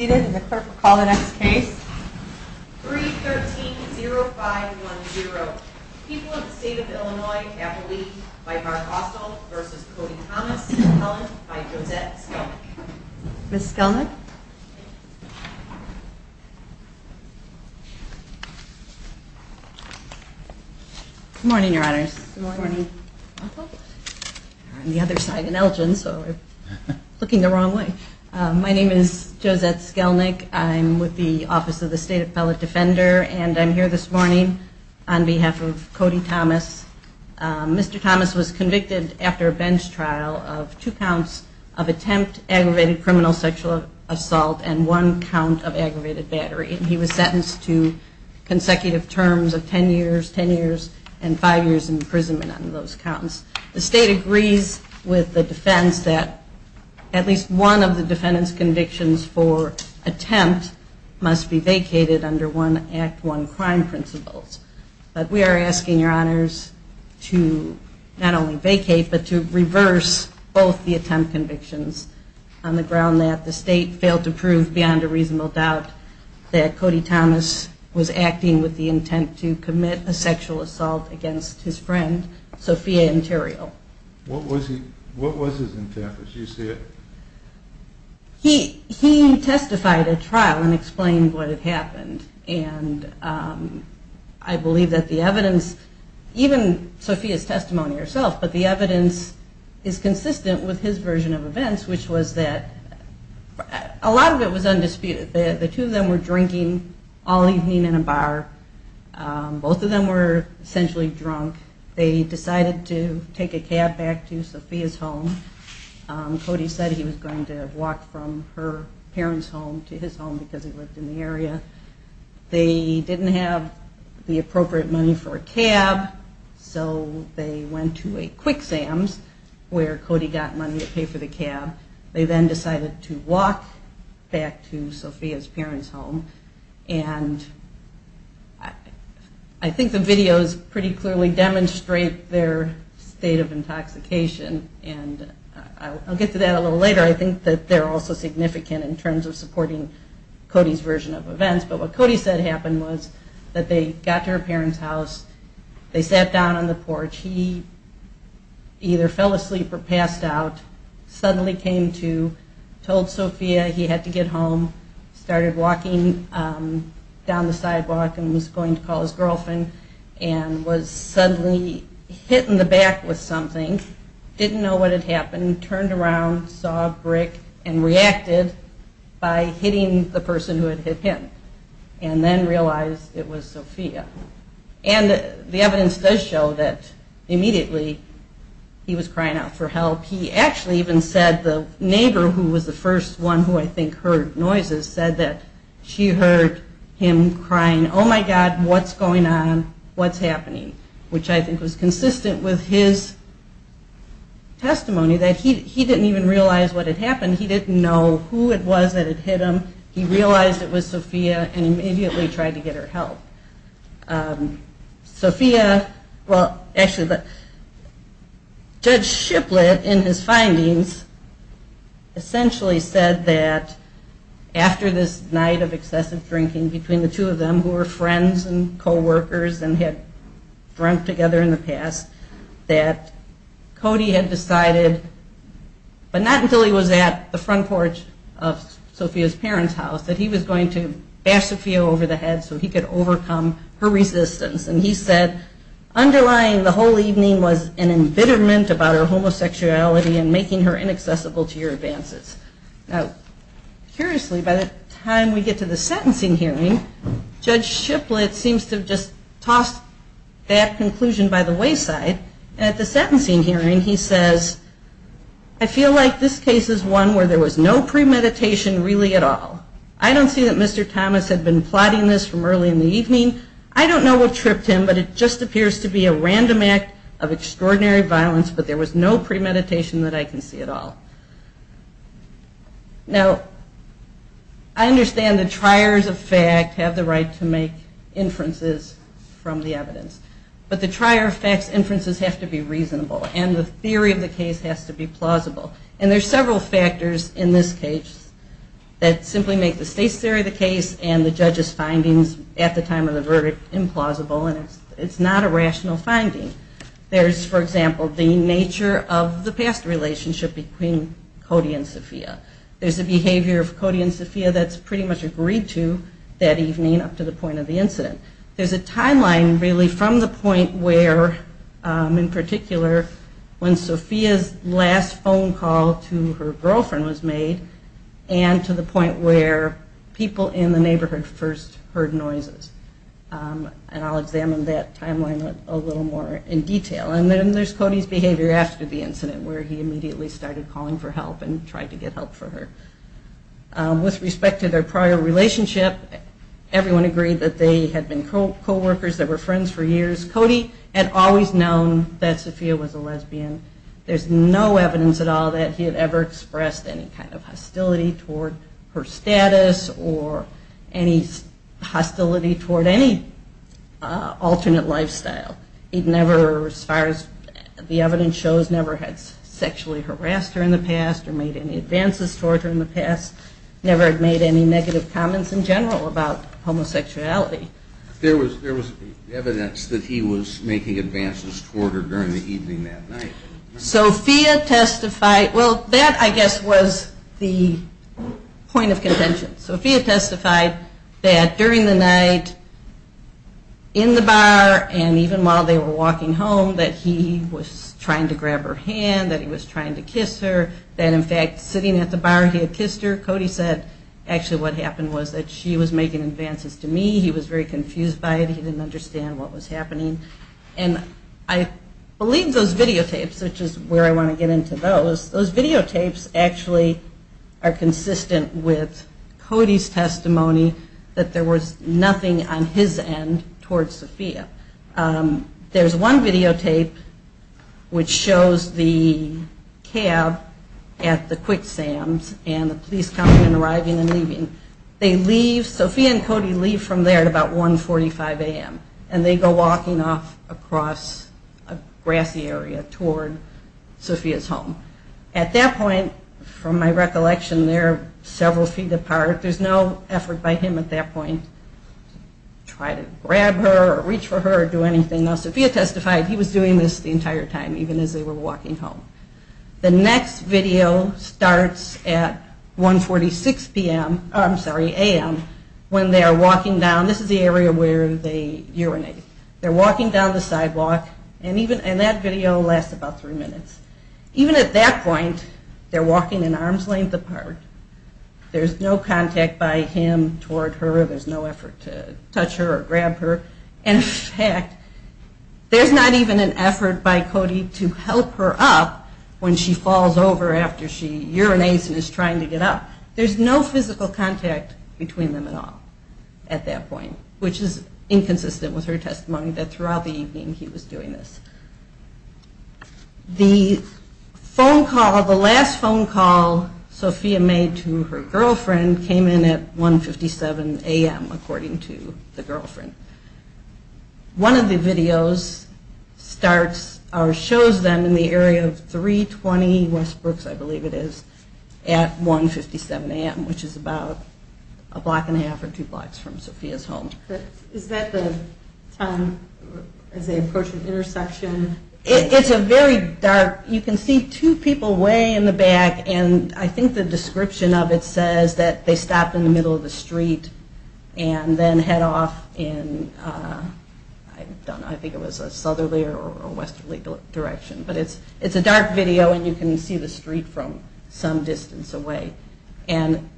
313-0510, People of the State of Illinois, Appalachia, by Mark Osdall v. Cody Thomas and Helen, by Josette Skelnick. Ms. Skelnick? Good morning. We're on the other side in Elgin, so we're looking the wrong way. My name is Josette Skelnick. I'm with the Office of the State Appellate Defender, and I'm here this morning on behalf of Cody Thomas. Mr. Thomas was convicted after a bench trial of two counts of attempt, aggravated criminal sexual assault, and one count of aggravated battery. He was sentenced to consecutive terms of ten years, ten years, and five years imprisonment on those counts. The state agrees with the defense that at least one of the defendant's convictions for attempt must be vacated under one Act I crime principles. But we are asking your honors to not only vacate, but to reverse both the attempt convictions on the ground that the state failed to prove beyond a reasonable doubt that Cody Thomas was acting with the intent to commit a sexual assault against his friend, Sophia Antero. What was his intent as you say it? He testified at trial and explained what had happened, and I believe that the evidence, even Sophia's testimony herself, but the evidence is consistent with his version of events, which was that a lot of it was undisputed. The two of them were drinking all evening in a bar. Both of them were essentially drunk. They decided to take a cab back to Sophia's home. Cody said he was going to walk from her parents' home to his home because he lived in the area. They didn't have the appropriate money for a cab, so they went to a Quick Sam's where Cody got money to pay for the cab. They then decided to walk back to Sophia's parents' home. And I think the videos pretty clearly demonstrate their state of intoxication, and I'll get to that a little later. I think that they're also significant in terms of supporting Cody's version of events. But what Cody said happened was that they got to her parents' house, they sat down on the porch. He either fell asleep or passed out, suddenly came to, told Sophia he had to get home, started walking down the sidewalk and was going to call his girlfriend, and was suddenly hit in the back with something, didn't know what had happened, turned around, saw a brick, and reacted by hitting the person who had hit him, and then realized it was Sophia. And the evidence does show that immediately he was crying out for help. He actually even said the neighbor, who was the first one who I think heard noises, said that she heard him crying, oh my god, what's going on, what's happening, which I think was consistent with his testimony that he didn't even realize what had happened, he didn't know who it was that had hit him, he realized it was Sophia and immediately tried to get her help. Sophia, well, actually, Judge Shiplett in his findings essentially said that after this night of excessive drinking between the two of them, who were friends and coworkers and had drunk together in the past, that Cody had decided, but not until he was at the front porch of Sophia's parents' house, that he was going to bash Sophia over the head so he could overcome her reaction. And he said, underlying the whole evening was an embitterment about her homosexuality and making her inaccessible to your advances. Now, curiously, by the time we get to the sentencing hearing, Judge Shiplett seems to have just tossed that conclusion by the wayside, and at the sentencing hearing he says, I feel like this case is one where there was no premeditation really at all. I don't see that Mr. Thomas had been plotting this from early in the evening. I don't know what tripped him, but it just appears to be a random act of extraordinary violence, but there was no premeditation that I can see at all. Now, I understand the triers of fact have the right to make inferences from the evidence, but the trier of fact's inferences have to be reasonable and the theory of the case has to be plausible. And there's several factors in this case that simply make the state's theory of the case and the judge's findings at the time of the verdict implausible and it's not a rational finding. There's, for example, the nature of the past relationship between Cody and Sophia. There's a behavior of Cody and Sophia that's pretty much agreed to that evening up to the point of the incident. There's a timeline really from the point where, in particular, when Sophia's last phone call to her girlfriend was made and to the point where people in the neighborhood first heard noises. And I'll examine that timeline a little more in detail. And then there's Cody's behavior after the incident where he immediately started calling for help and tried to get help for her. With respect to their prior relationship, everyone agreed that they had been co-workers, they were friends for years. Cody had always known that Sophia was a lesbian. There's no evidence at all that he had ever expressed any kind of hostility toward her status or any hostility toward any alternate lifestyle. He never, as far as the evidence shows, never had sexually harassed her in the past or made any advances toward her in the past, never had made any negative comments in general about homosexuality. There was evidence that he was making advances toward her during the evening that night. Sophia testified, well that I guess was the point of contention. Sophia testified that during the night in the bar and even while they were walking home that he was trying to grab her hand, that he was trying to kiss her, that in fact sitting at the bar he had kissed her. Cody said actually what happened was that she was making advances to me, he was very confused by it, he didn't understand what was happening. And I believe those videotapes, which is where I want to get into those, those videotapes actually are consistent with Cody's testimony that there was nothing on his end toward Sophia. There's one videotape which shows the cab at the Quick Sam's and the police coming and arriving and leaving. They leave, Sophia and Cody leave from there at about 1.45 a.m. And they go walking off across a grassy area toward Sophia's home. At that point, from my recollection, they're several feet apart. There's no effort by him at that point to try to grab her or reach for her or do anything. Now Sophia testified he was doing this the entire time, even as they were walking home. The next video starts at 1.46 a.m. when they are walking down, this is the area where they urinate. They're walking down the sidewalk and that video lasts about three minutes. Even at that point, they're walking an arm's length apart. There's no contact by him toward her, there's no effort to touch her or grab her. In fact, there's not even an effort by Cody to help her up when she falls over after she urinates and is trying to get up. There's no physical contact between them at all at that point, which is inconsistent with her testimony that throughout the evening he was doing this. The last phone call Sophia made to her girlfriend came in at 1.57 a.m. according to the girlfriend. One of the videos shows them in the area of 320 Westbrooks, I believe it is, at 1.57 a.m., which is about a block and a half or two blocks from Sophia's home. Is that the time as they approach an intersection? It's a very dark, you can see two people way in the back and I think the description of it says that they stop in the middle of the street and then head off in, I don't know, I think it was a southerly or westerly direction, but it's a dark video and you can see the street from some distance away. And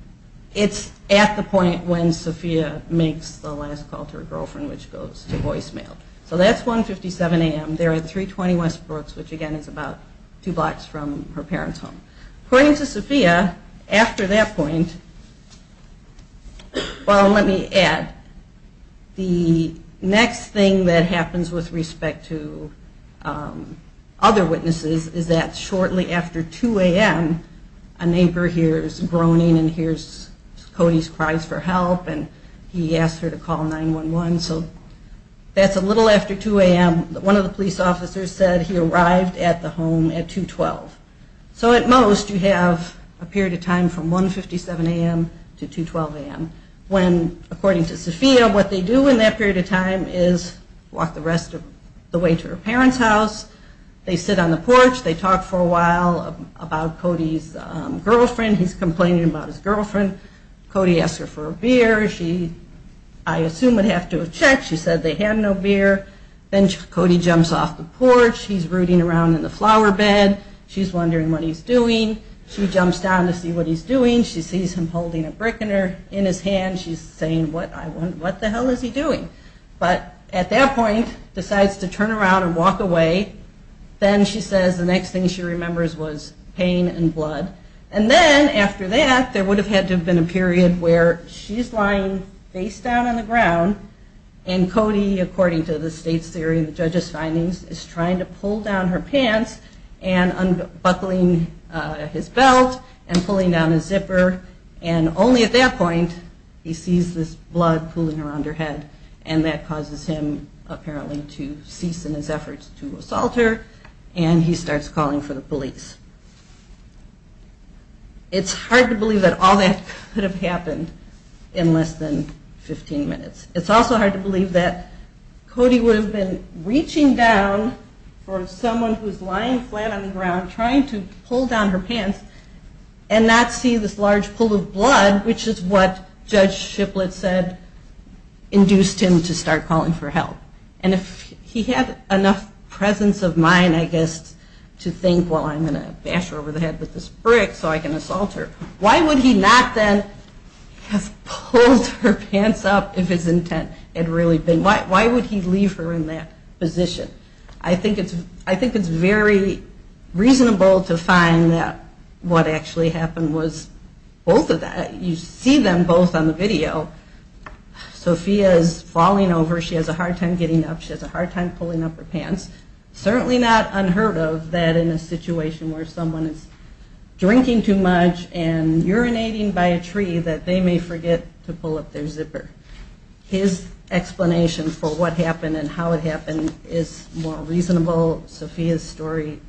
it's at the point when Sophia makes the last call to her girlfriend, which goes to voicemail. So that's 1.57 a.m. They're at 320 Westbrooks, which again is about two blocks from her parents' home. According to Sophia, after that point, well, let me add, the next thing that happens with respect to other witnesses is that shortly after 2 a.m. a neighbor hears groaning and hears Cody's cries for help and he asks her to call 911, so that's a little after 2 a.m. And one of the police officers said he arrived at the home at 2.12. So at most you have a period of time from 1.57 a.m. to 2.12 a.m. when according to Sophia, what they do in that period of time is walk the rest of the way to her parents' house, they sit on the porch, they talk for a while about Cody's girlfriend, he's complaining about his girlfriend. Cody asks her for a beer. She, I assume, would have to have checked. She said they had no beer. Then Cody jumps off the porch. He's rooting around in the flower bed. She's wondering what he's doing. She jumps down to see what he's doing. She sees him holding a brick in his hand. She's saying, what the hell is he doing? But at that point decides to turn around and walk away. Then she says the next thing she remembers was pain and blood. And then after that there would have had to have been a period where she's lying face down on the ground and Cody, according to the state's theory and the judge's findings, is trying to pull down her pants and unbuckling his belt and pulling down his zipper and only at that point he sees this blood pooling around her head. And that causes him, apparently, to cease in his efforts to assault her and he starts calling for the police. It's hard to believe that all that could have happened in less than 15 minutes. It's also hard to believe that Cody would have been reaching down for someone who's lying flat on the ground trying to pull down her pants and not see this large pool of blood, which is what Judge Shiplett said induced him to start calling for help. And if he had enough presence of mind, I guess, to think, well, I'm going to bash her over the head with this brick so I can assault her, why would he not then have pulled her pants up if his intent had really been, why would he leave her in that position? I think it's very reasonable to find that what actually happened was both of that. You see them both on the video. Sophia is falling over, she has a hard time getting up, she has a hard time pulling up her pants. Certainly not unheard of that in a situation where someone is drinking too much and urinating by a tree that they may forget to pull up their zipper. His explanation for what happened and how it happened is more reasonable. Sophia's story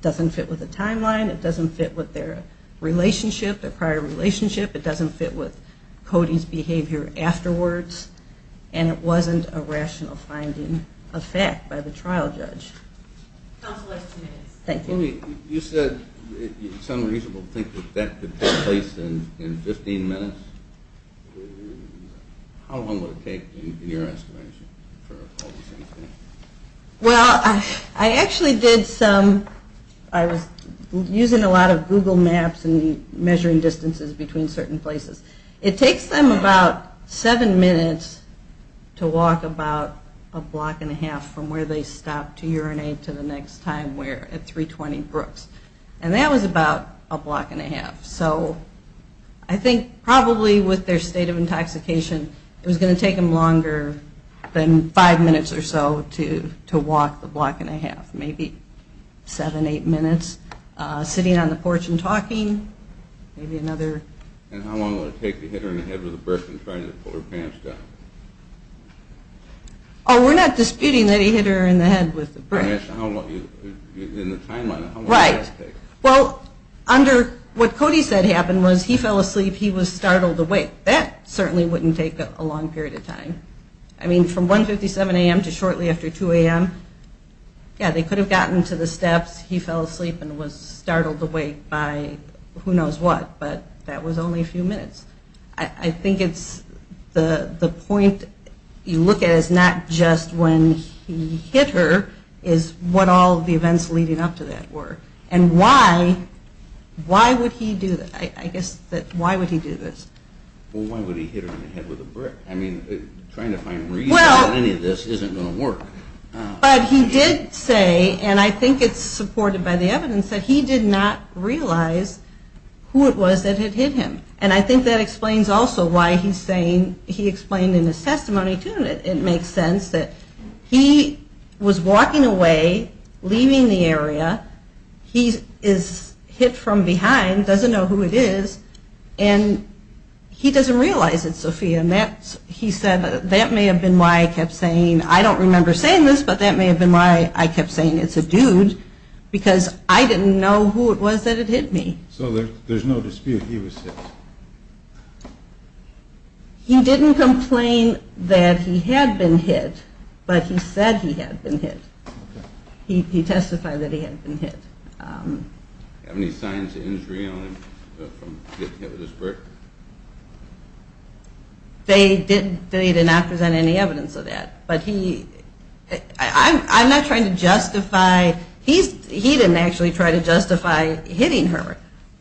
doesn't fit with the timeline, it doesn't fit with their relationship, their prior relationship, it doesn't fit with Cody's behavior afterwards, and it wasn't a rational finding of fact by the trial judge. You said it's unreasonable to think that could take place in 15 minutes. How long would it take in your estimation? Well, I actually did some, I was using a lot of Google Maps and measuring distances between certain places. It takes them about 7 minutes to walk about a block and a half from where they stopped to urinate to the next time where, at 320 Brooks, and that was about a block and a half. So I think probably with their state of intoxication, it was going to take them longer than 5 minutes or so to walk the block and a half, maybe 7, 8 minutes. Sitting on the porch and talking, maybe another. And how long would it take to hit her in the head with a brick and try to pull her pants down? Oh, we're not disputing that he hit her in the head with a brick. In the timeline, how long would that take? Well, under what Cody said happened was he fell asleep, he was startled awake. That certainly wouldn't take a long period of time. I mean, from 1.57 a.m. to shortly after 2 a.m., yeah, they could have gotten to the steps, he fell asleep and was startled awake by who knows what, but that was only a few minutes. I think it's the point you look at is not just when he hit her, it's what all the events leading up to that were. And why would he do that? I guess, why would he do this? Well, why would he hit her in the head with a brick? I mean, trying to find reasons for any of this isn't going to work. But he did say, and I think it's supported by the evidence, that he did not realize who it was that had hit him. And I think that explains also why he's saying, he explained in his testimony too that it makes sense that he was walking away, leaving the area. He is hit from behind, doesn't know who it is, and he doesn't realize it's Sophia. And he said that may have been why I kept saying, I don't remember saying this, but that may have been why I kept saying it's a dude, because I didn't know who it was that had hit me. So there's no dispute he was hit? He didn't complain that he had been hit, but he said he had been hit. He testified that he had been hit. Any signs of injury from being hit with a brick? They did not present any evidence of that. But he, I'm not trying to justify, he didn't actually try to justify hitting her.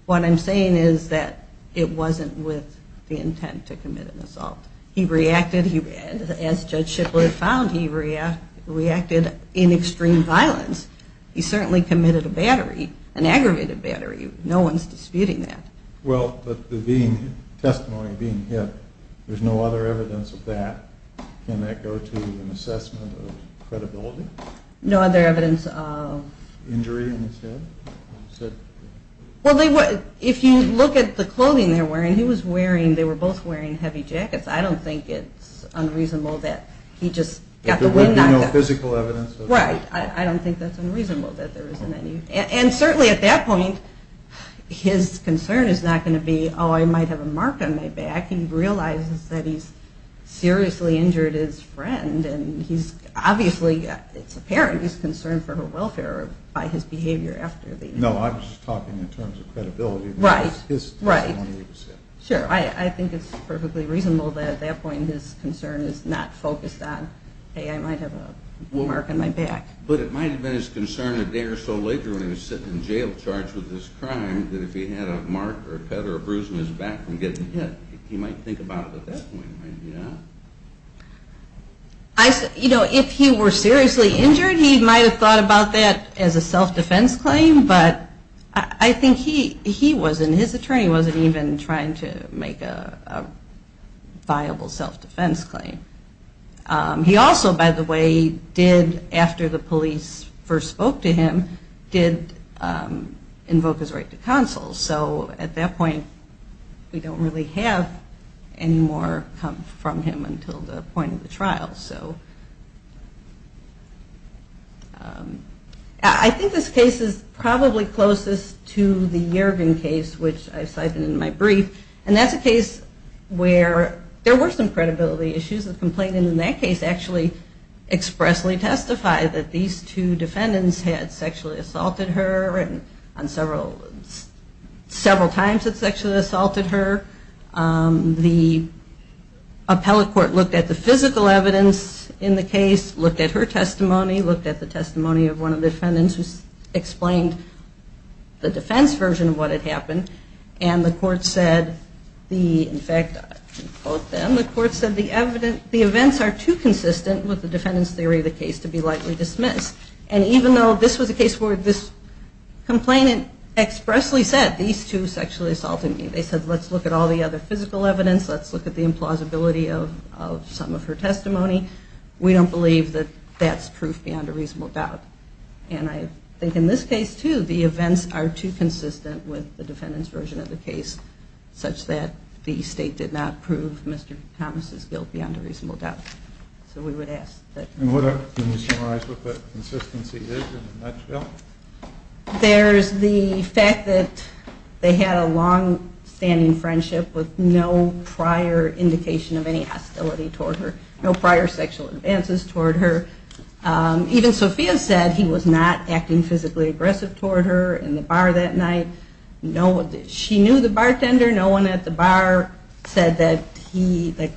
What I'm saying is that it wasn't with the intent to commit an assault. He reacted, as Judge Shipwood found, he reacted in extreme violence. He certainly committed a battery, an aggravated battery. No one's disputing that. Well, but the testimony of being hit, there's no other evidence of that. Can that go to an assessment of credibility? No other evidence of? Injury in his head? Well, if you look at the clothing they were wearing, he was wearing, they were both wearing heavy jackets. I don't think it's unreasonable that he just got the wind knocked up. There's no physical evidence? Right, I don't think that's unreasonable. And certainly at that point, his concern is not going to be, oh, I might have a mark on my back. He realizes that he's seriously injured his friend, and he's obviously, it's apparent he's concerned for her welfare by his behavior after the... No, I'm just talking in terms of credibility. Right, right. Sure, I think it's perfectly reasonable that at that point his concern is not focused on, hey, I might have a mark on my back. But it might have been his concern a day or so later when he was sitting in jail charged with this crime that if he had a mark or a cut or a bruise on his back from getting hit, he might think about it at that point. You know, if he were seriously injured, he might have thought about that as a self-defense claim, but I think he wasn't, his attorney wasn't even trying to make a viable self-defense claim. He also, by the way, did, after the police first spoke to him, did invoke his right to counsel. So at that point, we don't really have any more come from him until the point of the trial. So I think this case is probably closest to the Yergin case, which I cited in my brief, and that's a case where there were some credibility issues. The complainant in that case actually expressly testified that these two defendants had sexually assaulted her and several times had sexually assaulted her. The appellate court looked at the physical evidence in the case, looked at her testimony, looked at the testimony of one of the defendants who explained the defense version of what had happened. And the court said, in fact, I'll quote them, the court said the events are too consistent with the defendant's theory of the case to be likely dismissed. And even though this was a case where this complainant expressly said these two sexually assaulted me, they said let's look at all the other physical evidence, let's look at the implausibility of some of her testimony, we don't believe that that's proof beyond a reasonable doubt. And I think in this case, too, the events are too consistent with the defendant's version of the case such that the state did not prove Mr. Thomas' guilt beyond a reasonable doubt. So we would ask that... Can you summarize what that consistency is in a nutshell? There's the fact that they had a longstanding friendship with no prior indication of any hostility toward her, no prior sexual advances toward her. Even Sophia said he was not acting physically aggressive toward her in the bar that night. She knew the bartender, no one at the bar said that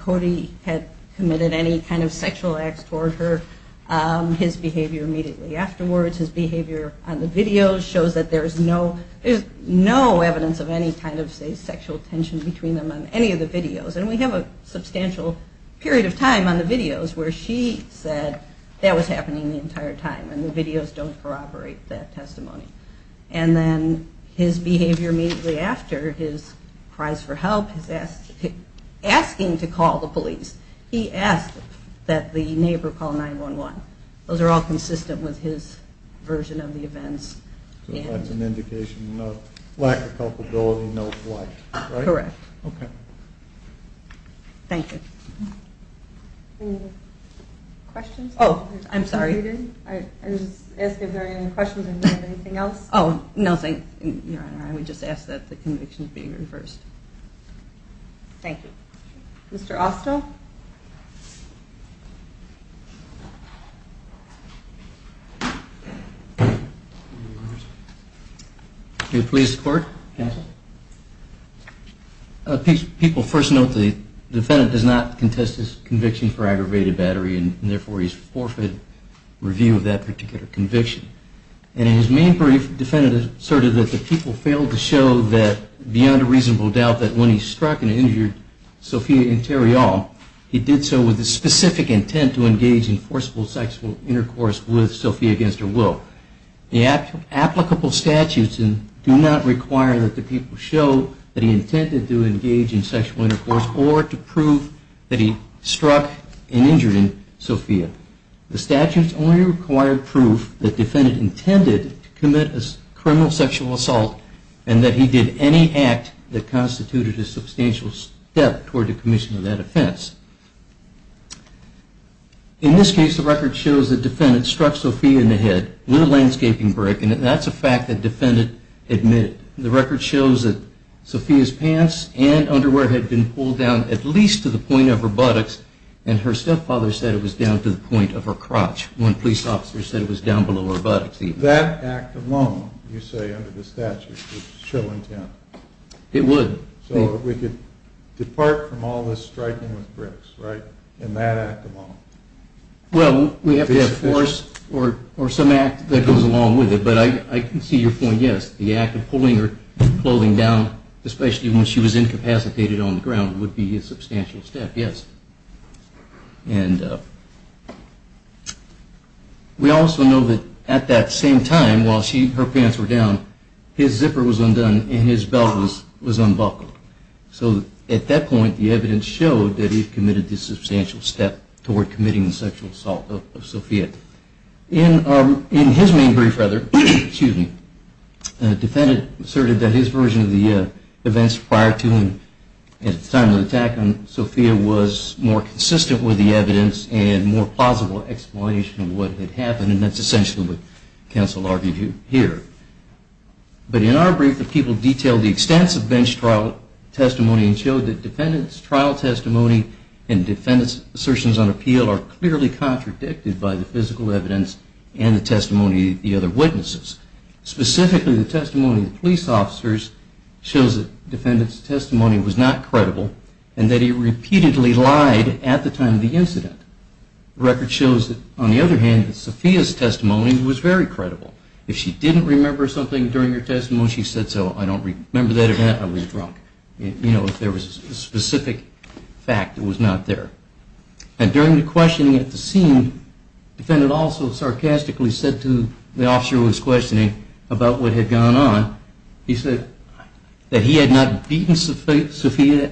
Cody had committed any kind of sexual acts toward her. His behavior immediately afterwards, his behavior on the videos shows that there's no evidence of any kind of sexual tension between them on any of the videos. And we have a substantial period of time on the videos where she said that was happening the entire time and the videos don't corroborate that testimony. And then his behavior immediately after, his cries for help, his asking to call the police, he asked that the neighbor call 911. Those are all consistent with his version of the events. So that's an indication of lack of culpability, no flight, right? Correct. Okay. Thank you. Any questions? Oh, I'm sorry. I was just asking if there were any questions and if you have anything else. Oh, nothing, Your Honor. I would just ask that the conviction be reversed. Thank you. Mr. Austo? Can you please report? People first note the defendant does not contest his conviction for aggravated battery and therefore he's forfeit review of that particular conviction. And in his main brief, the defendant asserted that the people failed to show that beyond a reasonable doubt that when he struck and injured Sophia and Terry all, he did so with a specific intent to engage in forcible sexual intercourse with Sophia against her will. The applicable statutes do not require that the people show that he intended to engage in sexual intercourse or to prove that he struck and injured Sophia. The statutes only require proof that the defendant intended to commit a criminal sexual assault and that he did any act that constituted a substantial step toward the commission of that offense. In this case, the record shows that the defendant struck Sophia in the head with a landscaping brick, and that's a fact that the defendant admitted. The record shows that Sophia's pants and underwear had been pulled down at least to the point of her buttocks, and her stepfather said it was down to the point of her crotch. One police officer said it was down below her buttocks even. That act alone, you say, under the statute would show intent? It would. So we could depart from all this striking with bricks, right, in that act alone? Well, we have to have force or some act that goes along with it, but I can see your point, yes. The act of pulling her clothing down, especially when she was incapacitated on the ground, would be a substantial step, yes. And we also know that at that same time, while her pants were down, his zipper was undone and his belt was unbuckled. So at that point, the evidence showed that he had committed the substantial step toward committing the sexual assault of Sophia. In his main brief, the defendant asserted that his version of the events prior to and at the time of the attack on Sophia was more consistent with the evidence and more plausible explanation of what had happened, and that's essentially what counsel argued here. But in our brief, the people detailed the extensive bench trial testimony and showed that defendants' trial testimony and defendants' assertions on appeal are clearly contradicted by the physical evidence and the testimony of the other witnesses. Specifically, the testimony of the police officers shows that defendants' testimony was not credible and that he repeatedly lied at the time of the incident. The record shows, on the other hand, that Sophia's testimony was very credible. If she didn't remember something during her testimony, she said, so I don't remember that event, I was drunk. You know, if there was a specific fact that was not there. And during the questioning at the scene, the defendant also sarcastically said to the officer who was questioning about what had gone on, he said that he had not beaten Sophia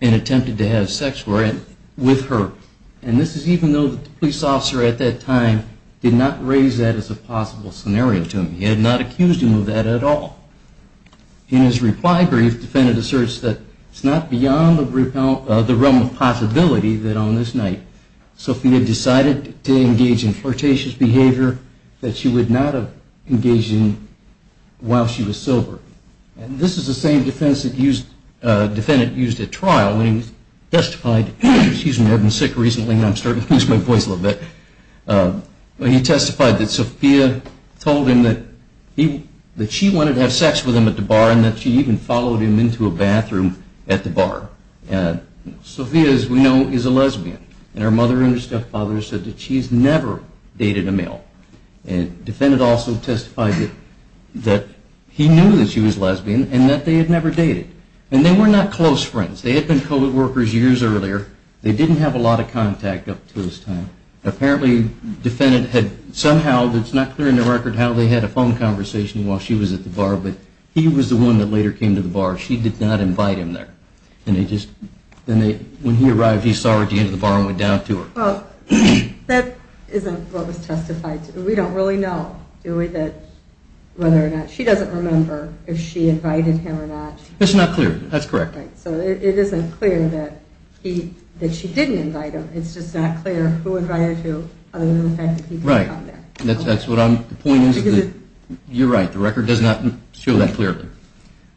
and attempted to have sex with her. And this is even though the police officer at that time did not raise that as a possible scenario to him. He had not accused him of that at all. In his reply brief, the defendant asserts that it's not beyond the realm of possibility that on this night, Sophia decided to engage in flirtatious behavior that she would not have engaged in while she was sober. And this is the same defense that the defendant used at trial when he testified, excuse me, I've been sick recently and I'm starting to lose my voice a little bit, when he testified that Sophia told him that she wanted to have sex with him at the bar and that she even followed him into a bathroom at the bar. Sophia, as we know, is a lesbian. And her mother and her stepfather said that she's never dated a male. And the defendant also testified that he knew that she was lesbian and that they had never dated. And they were not close friends. They had been co-workers years earlier. They didn't have a lot of contact up to this time. Apparently, the defendant had somehow, it's not clear in the record how they had a phone conversation while she was at the bar, but he was the one that later came to the bar. She did not invite him there. And when he arrived, he saw her at the end of the bar and went down to her. Well, that isn't what was testified to. We don't really know, do we, that whether or not she doesn't remember if she invited him or not. It's not clear. That's correct. So it isn't clear that she didn't invite him. It's just not clear who invited who other than the fact that he did come there. Right. That's what I'm, the point is, you're right, the record does not show that clearly.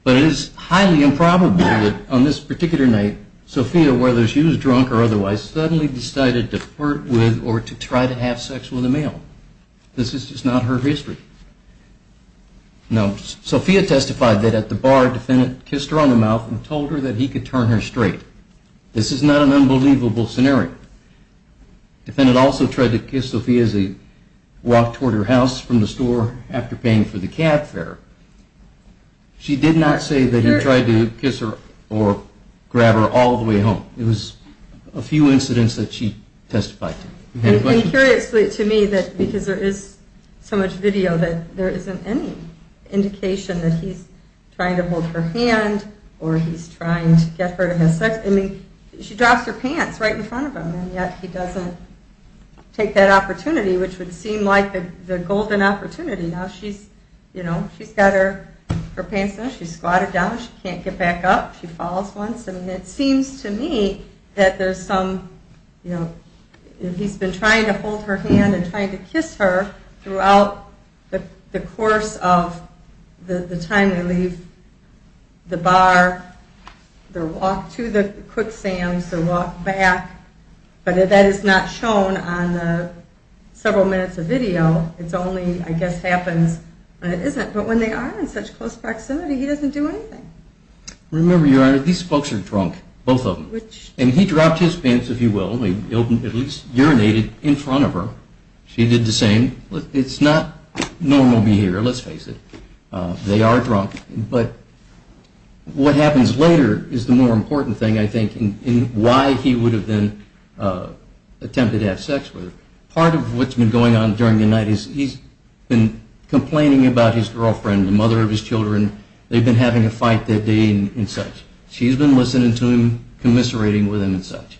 But it is highly improbable that on this particular night, Sophia, whether she was drunk or otherwise, suddenly decided to flirt with or to try to have sex with a male. This is just not her history. Now, Sophia testified that at the bar, the defendant kissed her on the mouth and told her that he could turn her straight. This is not an unbelievable scenario. The defendant also tried to kiss Sophia as he walked toward her house from the store after paying for the cab fare. She did not say that he tried to kiss her or grab her all the way home. It was a few incidents that she testified to. Any questions? And curiously to me that because there is so much video that there isn't any indication that he's trying to hold her hand or he's trying to get her to have sex. I mean, she drops her pants right in front of him and yet he doesn't take that opportunity, which would seem like the golden opportunity. Now she's, you know, she's got her pants down, she's squatted down, she can't get back up, she falls once. I mean, it seems to me that there's some, you know, he's been trying to hold her hand and trying to kiss her throughout the course of the time they leave the bar, their walk to the Quick Sam's, their walk back. But that is not shown on the several minutes of video. It's only, I guess, happens when it isn't. But when they are in such close proximity, he doesn't do anything. Remember, Your Honor, these folks are drunk, both of them. And he dropped his pants, if you will, at least urinated in front of her. She did the same. It's not normal behavior, let's face it. They are drunk. But what happens later is the more important thing, I think, in why he would have been attempted to have sex with her. Part of what's been going on during the night is he's been complaining about his girlfriend, the mother of his children. They've been having a fight that day and such. She's been listening to him, commiserating with him and such.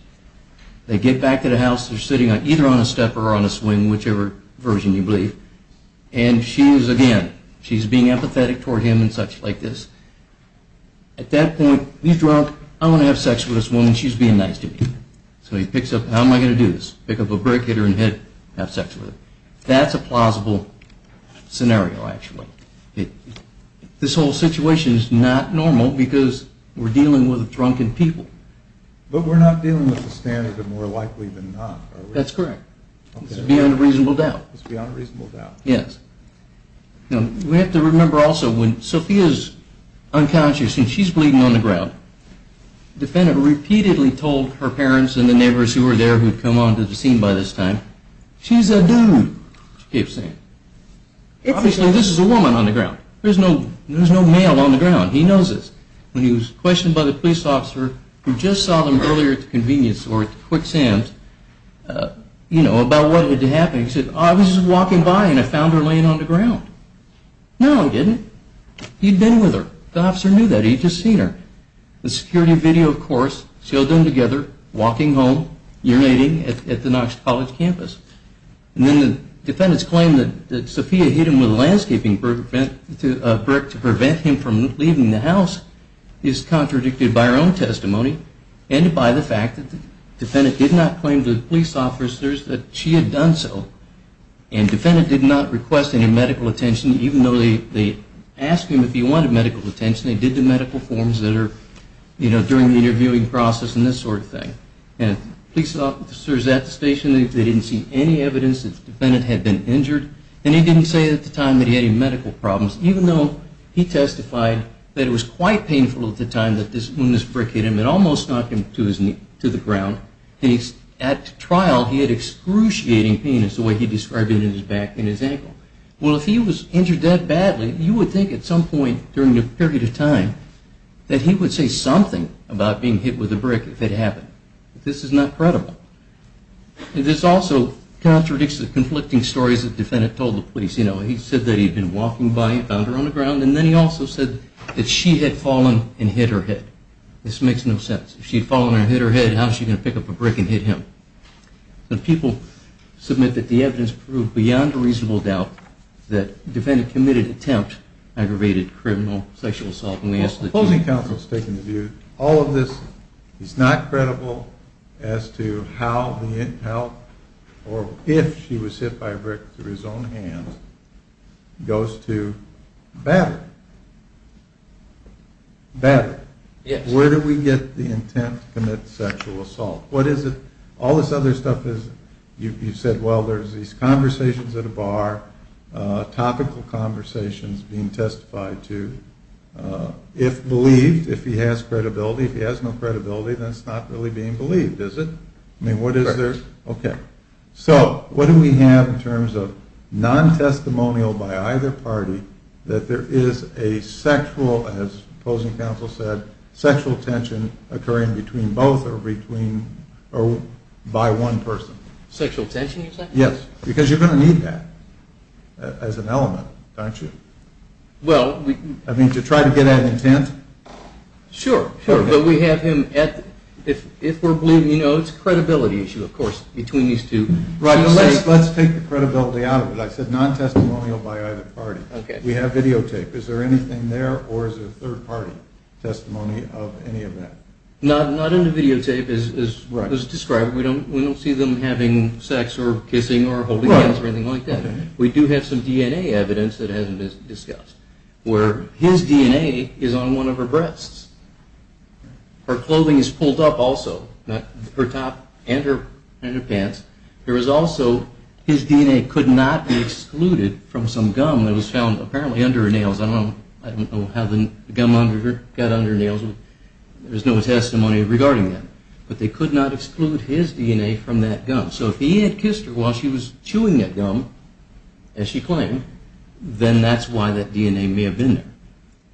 They get back to the house. They're sitting either on a stepper or on a swing, whichever version you believe. And she is, again, she's being empathetic toward him and such like this. At that point, he's drunk. I want to have sex with this woman. She's being nice to me. So he picks up. How am I going to do this? Pick up a brick, hit her in the head, have sex with her. That's a plausible scenario, actually. This whole situation is not normal because we're dealing with a drunken people. But we're not dealing with the standard of more likely than not, are we? That's correct. This is beyond a reasonable doubt. It's beyond a reasonable doubt. Yes. We have to remember also when Sophia is unconscious and she's bleeding on the ground, the defendant repeatedly told her parents and the neighbors who were there who had come onto the scene by this time, she's a dude, she keeps saying. Obviously, this is a woman on the ground. There's no male on the ground. He knows this. When he was questioned by the police officer who just saw them earlier at the convenience store at Quick Sam's, you know, about what had happened, he said, I was just walking by and I found her laying on the ground. No, he didn't. He'd been with her. The officer knew that. He'd just seen her. The security video, of course, showed them together walking home, urinating at the Knox College campus. And then the defendant's claim that Sophia hit him with a landscaping brick to prevent him from leaving the house is contradicted by her own testimony and by the fact that the defendant did not claim to the police officers that she had done so. And the defendant did not request any medical attention, even though they asked him if he wanted medical attention. They did the medical forms that are, you know, during the interviewing process and this sort of thing. And the police officers at the station, they didn't see any evidence that the defendant had been injured. And he didn't say at the time that he had any medical problems, even though he testified that it was quite painful at the time that this woundless brick hit him. It almost knocked him to the ground. At trial, he had excruciating pain, as the way he described it, in his back and his ankle. Well, if he was injured that badly, you would think at some point during the period of time that he would say something about being hit with a brick if it happened. This is not credible. This also contradicts the conflicting stories that the defendant told the police. You know, he said that he had been walking by, he found her on the ground, and then he also said that she had fallen and hit her head. This makes no sense. If she had fallen and hit her head, how is she going to pick up a brick and hit him? The people submit that the evidence proved beyond a reasonable doubt that the defendant committed an attempt, aggravated criminal sexual assault. All of this is not credible as to how or if she was hit by a brick through his own hands goes to battle. Where do we get the intent to commit sexual assault? What is it? All this other stuff is, you said, well, there's these conversations at a bar, topical conversations being testified to. If believed, if he has credibility, if he has no credibility, then it's not really being believed, is it? Correct. Okay. So, what do we have in terms of non-testimonial by either party that there is a sexual, as opposing counsel said, sexual tension occurring between both or by one person? Sexual tension, you're saying? Yes, because you're going to need that as an element, aren't you? Well, we... I mean, to try to get at intent? Sure, sure, but we have him at, if we're believing, you know, it's a credibility issue, of course, between these two. Right, but let's take the credibility out of it. I said non-testimonial by either party. Okay. We have videotape. Is there anything there, or is there third-party testimony of any of that? Not in the videotape as described. We don't see them having sex or kissing or holding hands or anything like that. We do have some DNA evidence that hasn't been discussed, where his DNA is on one of her breasts. Her clothing is pulled up also, her top and her pants. There is also, his DNA could not be excluded from some gum that was found apparently under her nails. I don't know how the gum got under her nails. There's no testimony regarding that, but they could not exclude his DNA from that gum. So if he had kissed her while she was chewing that gum, as she claimed, then that's why that DNA may have been there.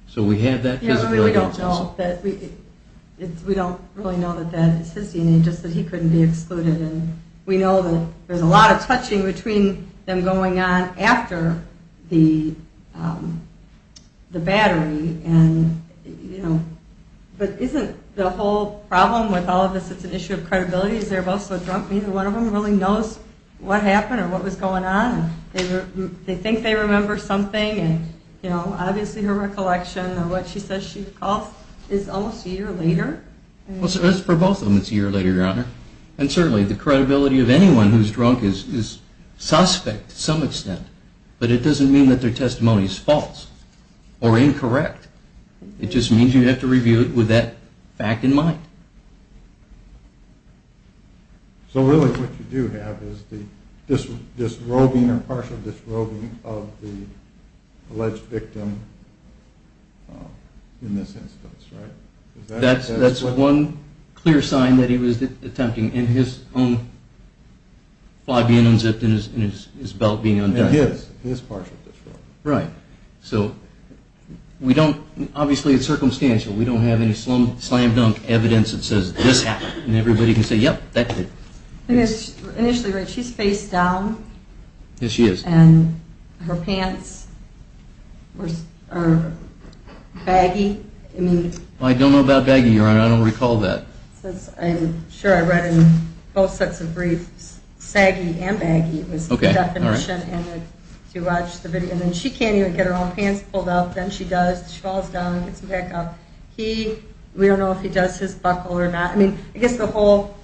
So we have that physical evidence also. We don't really know that that is his DNA, just that he couldn't be excluded. And we know that there's a lot of touching between them going on after the battery and, you know. But isn't the whole problem with all of this, it's an issue of credibility, is they're both so drunk, neither one of them really knows what happened or what was going on. They think they remember something and, you know, obviously her recollection or what she says she calls is almost a year later. Well, for both of them it's a year later, Your Honor. And certainly the credibility of anyone who's drunk is suspect to some extent, but it doesn't mean that their testimony is false or incorrect. It just means you have to review it with that fact in mind. So really what you do have is the disrobing or partial disrobing of the alleged victim in this instance, right? That's one clear sign that he was attempting, and his own fly being unzipped and his belt being undone. And his partial disrobing. Right. So we don't, obviously it's circumstantial, we don't have any slam-dunk evidence that says this happened and everybody can say, yep, that did. Initially, right, she's face down. Yes, she is. And her pants are baggy. I don't know about baggy, Your Honor. I don't recall that. I'm sure I read in both sets of briefs saggy and baggy was the definition, and then she can't even get her own pants pulled up. Then she does, she falls down and gets them back up. We don't know if he does his buckle or not. I mean, I guess the whole,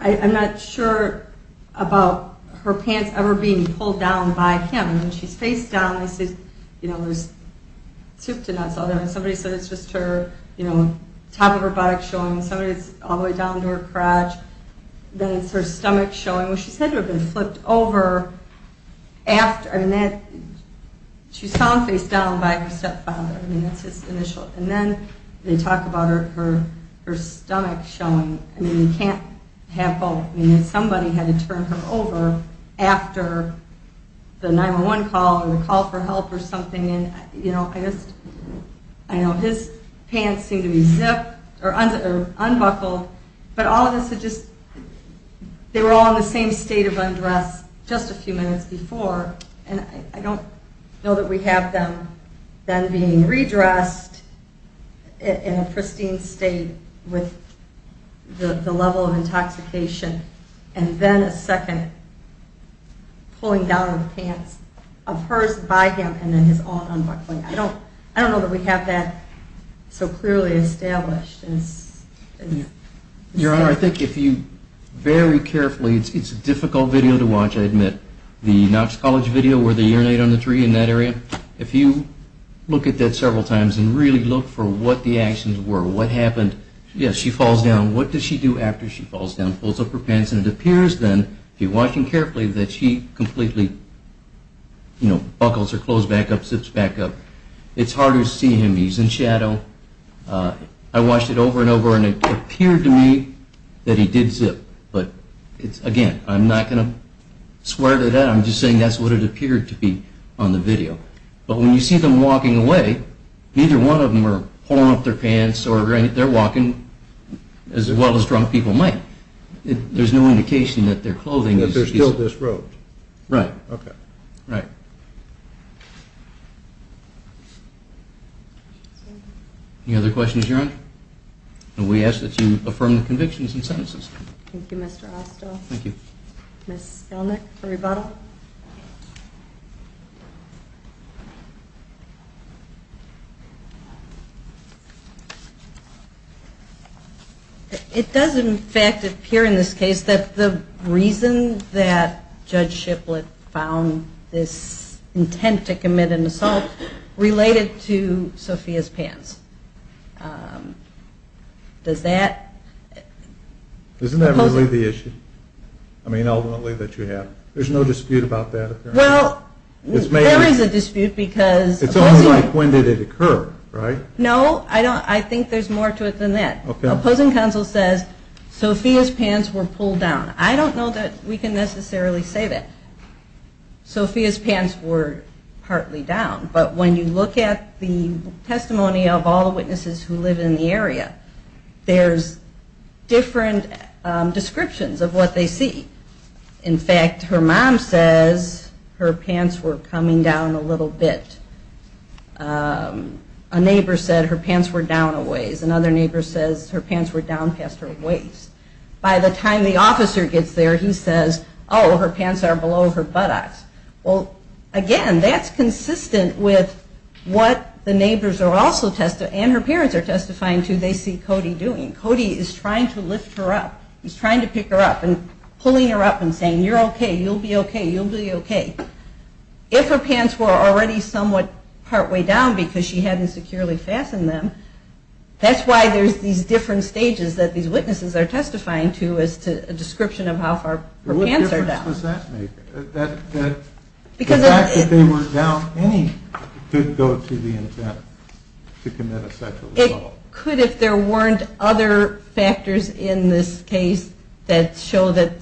I'm not sure about her pants ever being pulled down by him. She's face down, you know, there's soup to nuts all there. Somebody said it's just her, you know, top of her buttock showing. Somebody said it's all the way down to her crotch. Then it's her stomach showing. Well, she's had to have been flipped over after, I mean, she's found face down by her stepfather. I mean, that's his initial. And then they talk about her stomach showing. I mean, you can't have both. I mean, somebody had to turn her over after the 911 call or the call for help or something. And, you know, I just, I know his pants seem to be zipped or unbuckled. But all of this had just, they were all in the same state of undress just a few minutes before. And I don't know that we have them then being redressed in a pristine state with the level of intoxication and then a second pulling down of the pants of hers by him and then his own unbuckling. I don't know that we have that so clearly established. Your Honor, I think if you very carefully, it's a difficult video to watch, I admit. The Knox College video where they urinate on the tree in that area, if you look at that several times and really look for what the actions were, what happened. Yes, she falls down. What does she do after she falls down? Pulls up her pants and it appears then, if you're watching carefully, that she completely, you know, buckles her clothes back up, zips back up. It's hard to see him. He's in shadow. I watched it over and over and it appeared to me that he did zip. But again, I'm not going to swear to that. I'm just saying that's what it appeared to be on the video. But when you see them walking away, neither one of them are pulling up their pants or they're walking as well as drunk people might. There's no indication that their clothing is... That they're still disrobed. Right. Okay. Right. Any other questions, Your Honor? And we ask that you affirm the convictions and sentences. Thank you, Mr. Hostow. Thank you. Ms. Skelnick for rebuttal. It does, in fact, appear in this case that the reason that Judge Shiplet found this intent to commit an assault related to Sophia's pants. Does that... Isn't that really the issue? I mean, ultimately, that you have? There's no dispute about that, apparently? Well, there is a dispute because... It's only like when did it occur, right? No, I think there's more to it than that. Opposing counsel says Sophia's pants were pulled down. I don't know that we can necessarily say that. Sophia's pants were partly down. But when you look at the testimony of all the witnesses who live in the area, there's different descriptions of what they see. In fact, her mom says her pants were coming down a little bit. A neighbor said her pants were down a ways. Another neighbor says her pants were down past her waist. By the time the officer gets there, he says, oh, her pants are below her buttocks. Well, again, that's consistent with what the neighbors are also testifying, and her parents are testifying to, they see Cody doing. Cody is trying to lift her up. He's trying to pick her up and pulling her up and saying, you're okay. You'll be okay. You'll be okay. If her pants were already somewhat partway down because she hadn't securely fastened them, that's why there's these different stages that these witnesses are testifying to as to a description of how far her pants are down. What difference does that make? The fact that they were down any could go to the intent to commit a sexual assault. It could if there weren't other factors in this case that show that,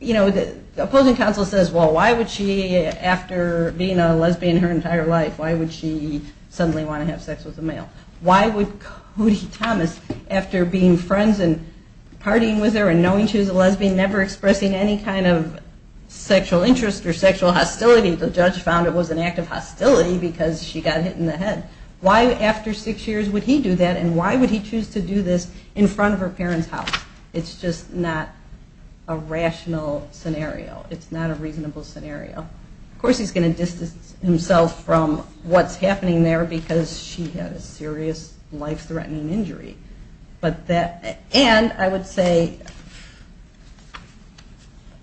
you know, the opposing counsel says, well, why would she, after being a lesbian her entire life, why would she suddenly want to have sex with a male? Why would Cody Thomas, after being friends and partying with her and knowing she was a lesbian, never expressing any kind of sexual interest or sexual hostility, the judge found it was an act of hostility because she got hit in the head. Why, after six years, would he do that, and why would he choose to do this in front of her parents' house? It's just not a rational scenario. It's not a reasonable scenario. Of course he's going to distance himself from what's happening there because she had a serious life-threatening injury. And I would say,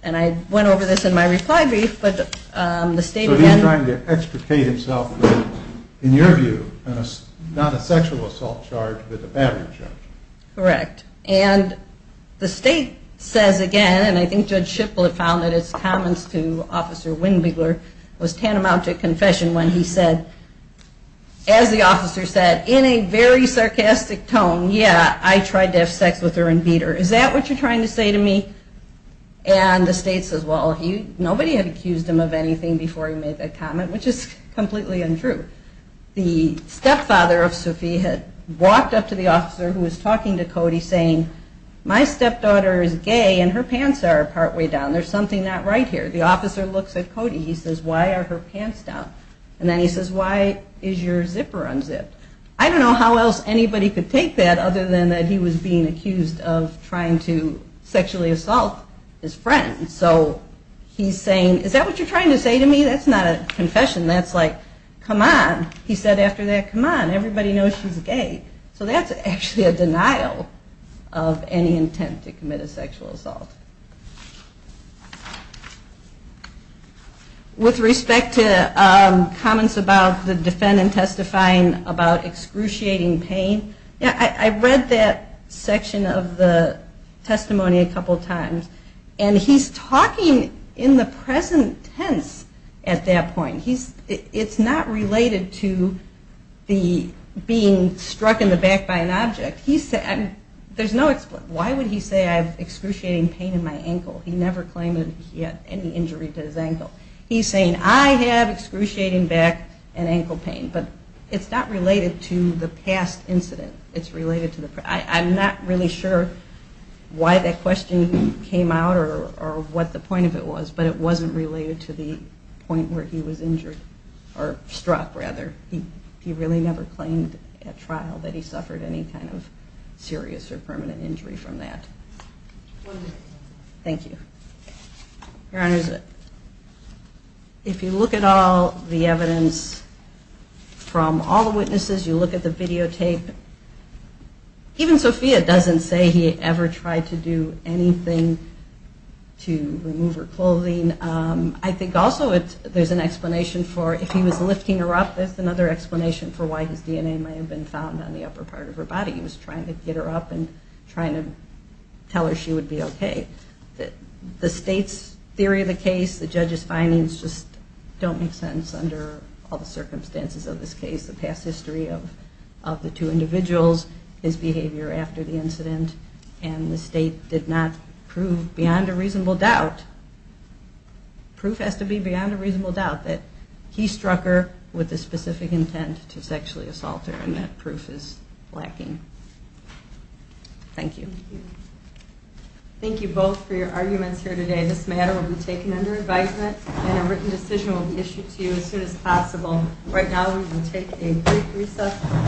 and I went over this in my reply brief, but the state again- So he's trying to extricate himself from, in your view, not a sexual assault charge but a battery charge. Correct. And the state says again, and I think Judge Shipp will have found that his comments to Officer Wingbegler was tantamount to a confession when he said, as the officer said, in a very sarcastic tone, yeah, I tried to have sex with her and beat her. Is that what you're trying to say to me? And the state says, well, nobody had accused him of anything before he made that comment, which is completely untrue. The stepfather of Sophie had walked up to the officer who was talking to Cody saying, my stepdaughter is gay and her pants are partway down. There's something not right here. The officer looks at Cody. He says, why are her pants down? And then he says, why is your zipper unzipped? I don't know how else anybody could take that other than that he was being accused of trying to sexually assault his friend. So he's saying, is that what you're trying to say to me? That's not a confession. That's like, come on. He said after that, come on. Everybody knows she's gay. So that's actually a denial of any intent to commit a sexual assault. With respect to comments about the defendant testifying about excruciating pain, I read that section of the testimony a couple times, and he's talking in the present tense at that point. It's not related to the being struck in the back by an object. There's no explanation. Why would he say I have excruciating pain in my ankle? He never claimed he had any injury to his ankle. He's saying, I have excruciating back and ankle pain, but it's not related to the past incident. I'm not really sure why that question came out or what the point of it was, but it wasn't related to the point where he was injured or struck, rather. He really never claimed at trial that he suffered any kind of serious or permanent injury from that. Thank you. Your Honors, if you look at all the evidence from all the witnesses, you look at the videotape, even Sophia doesn't say he ever tried to do anything to remove her clothing. I think also there's an explanation for if he was lifting her up, there's another explanation for why his DNA may have been found on the upper part of her body. He was trying to get her up and trying to tell her she would be okay. The state's theory of the case, the judge's findings, just don't make sense under all the circumstances of this case, the past history of the two individuals, his behavior after the incident, and the state did not prove beyond a reasonable doubt, proof has to be beyond a reasonable doubt, that he struck her with the specific intent to sexually assault her, and that proof is lacking. Thank you. Thank you both for your arguments here today. This matter will be taken under advisement and a written decision will be issued to you as soon as possible. Right now we will take a quick recess.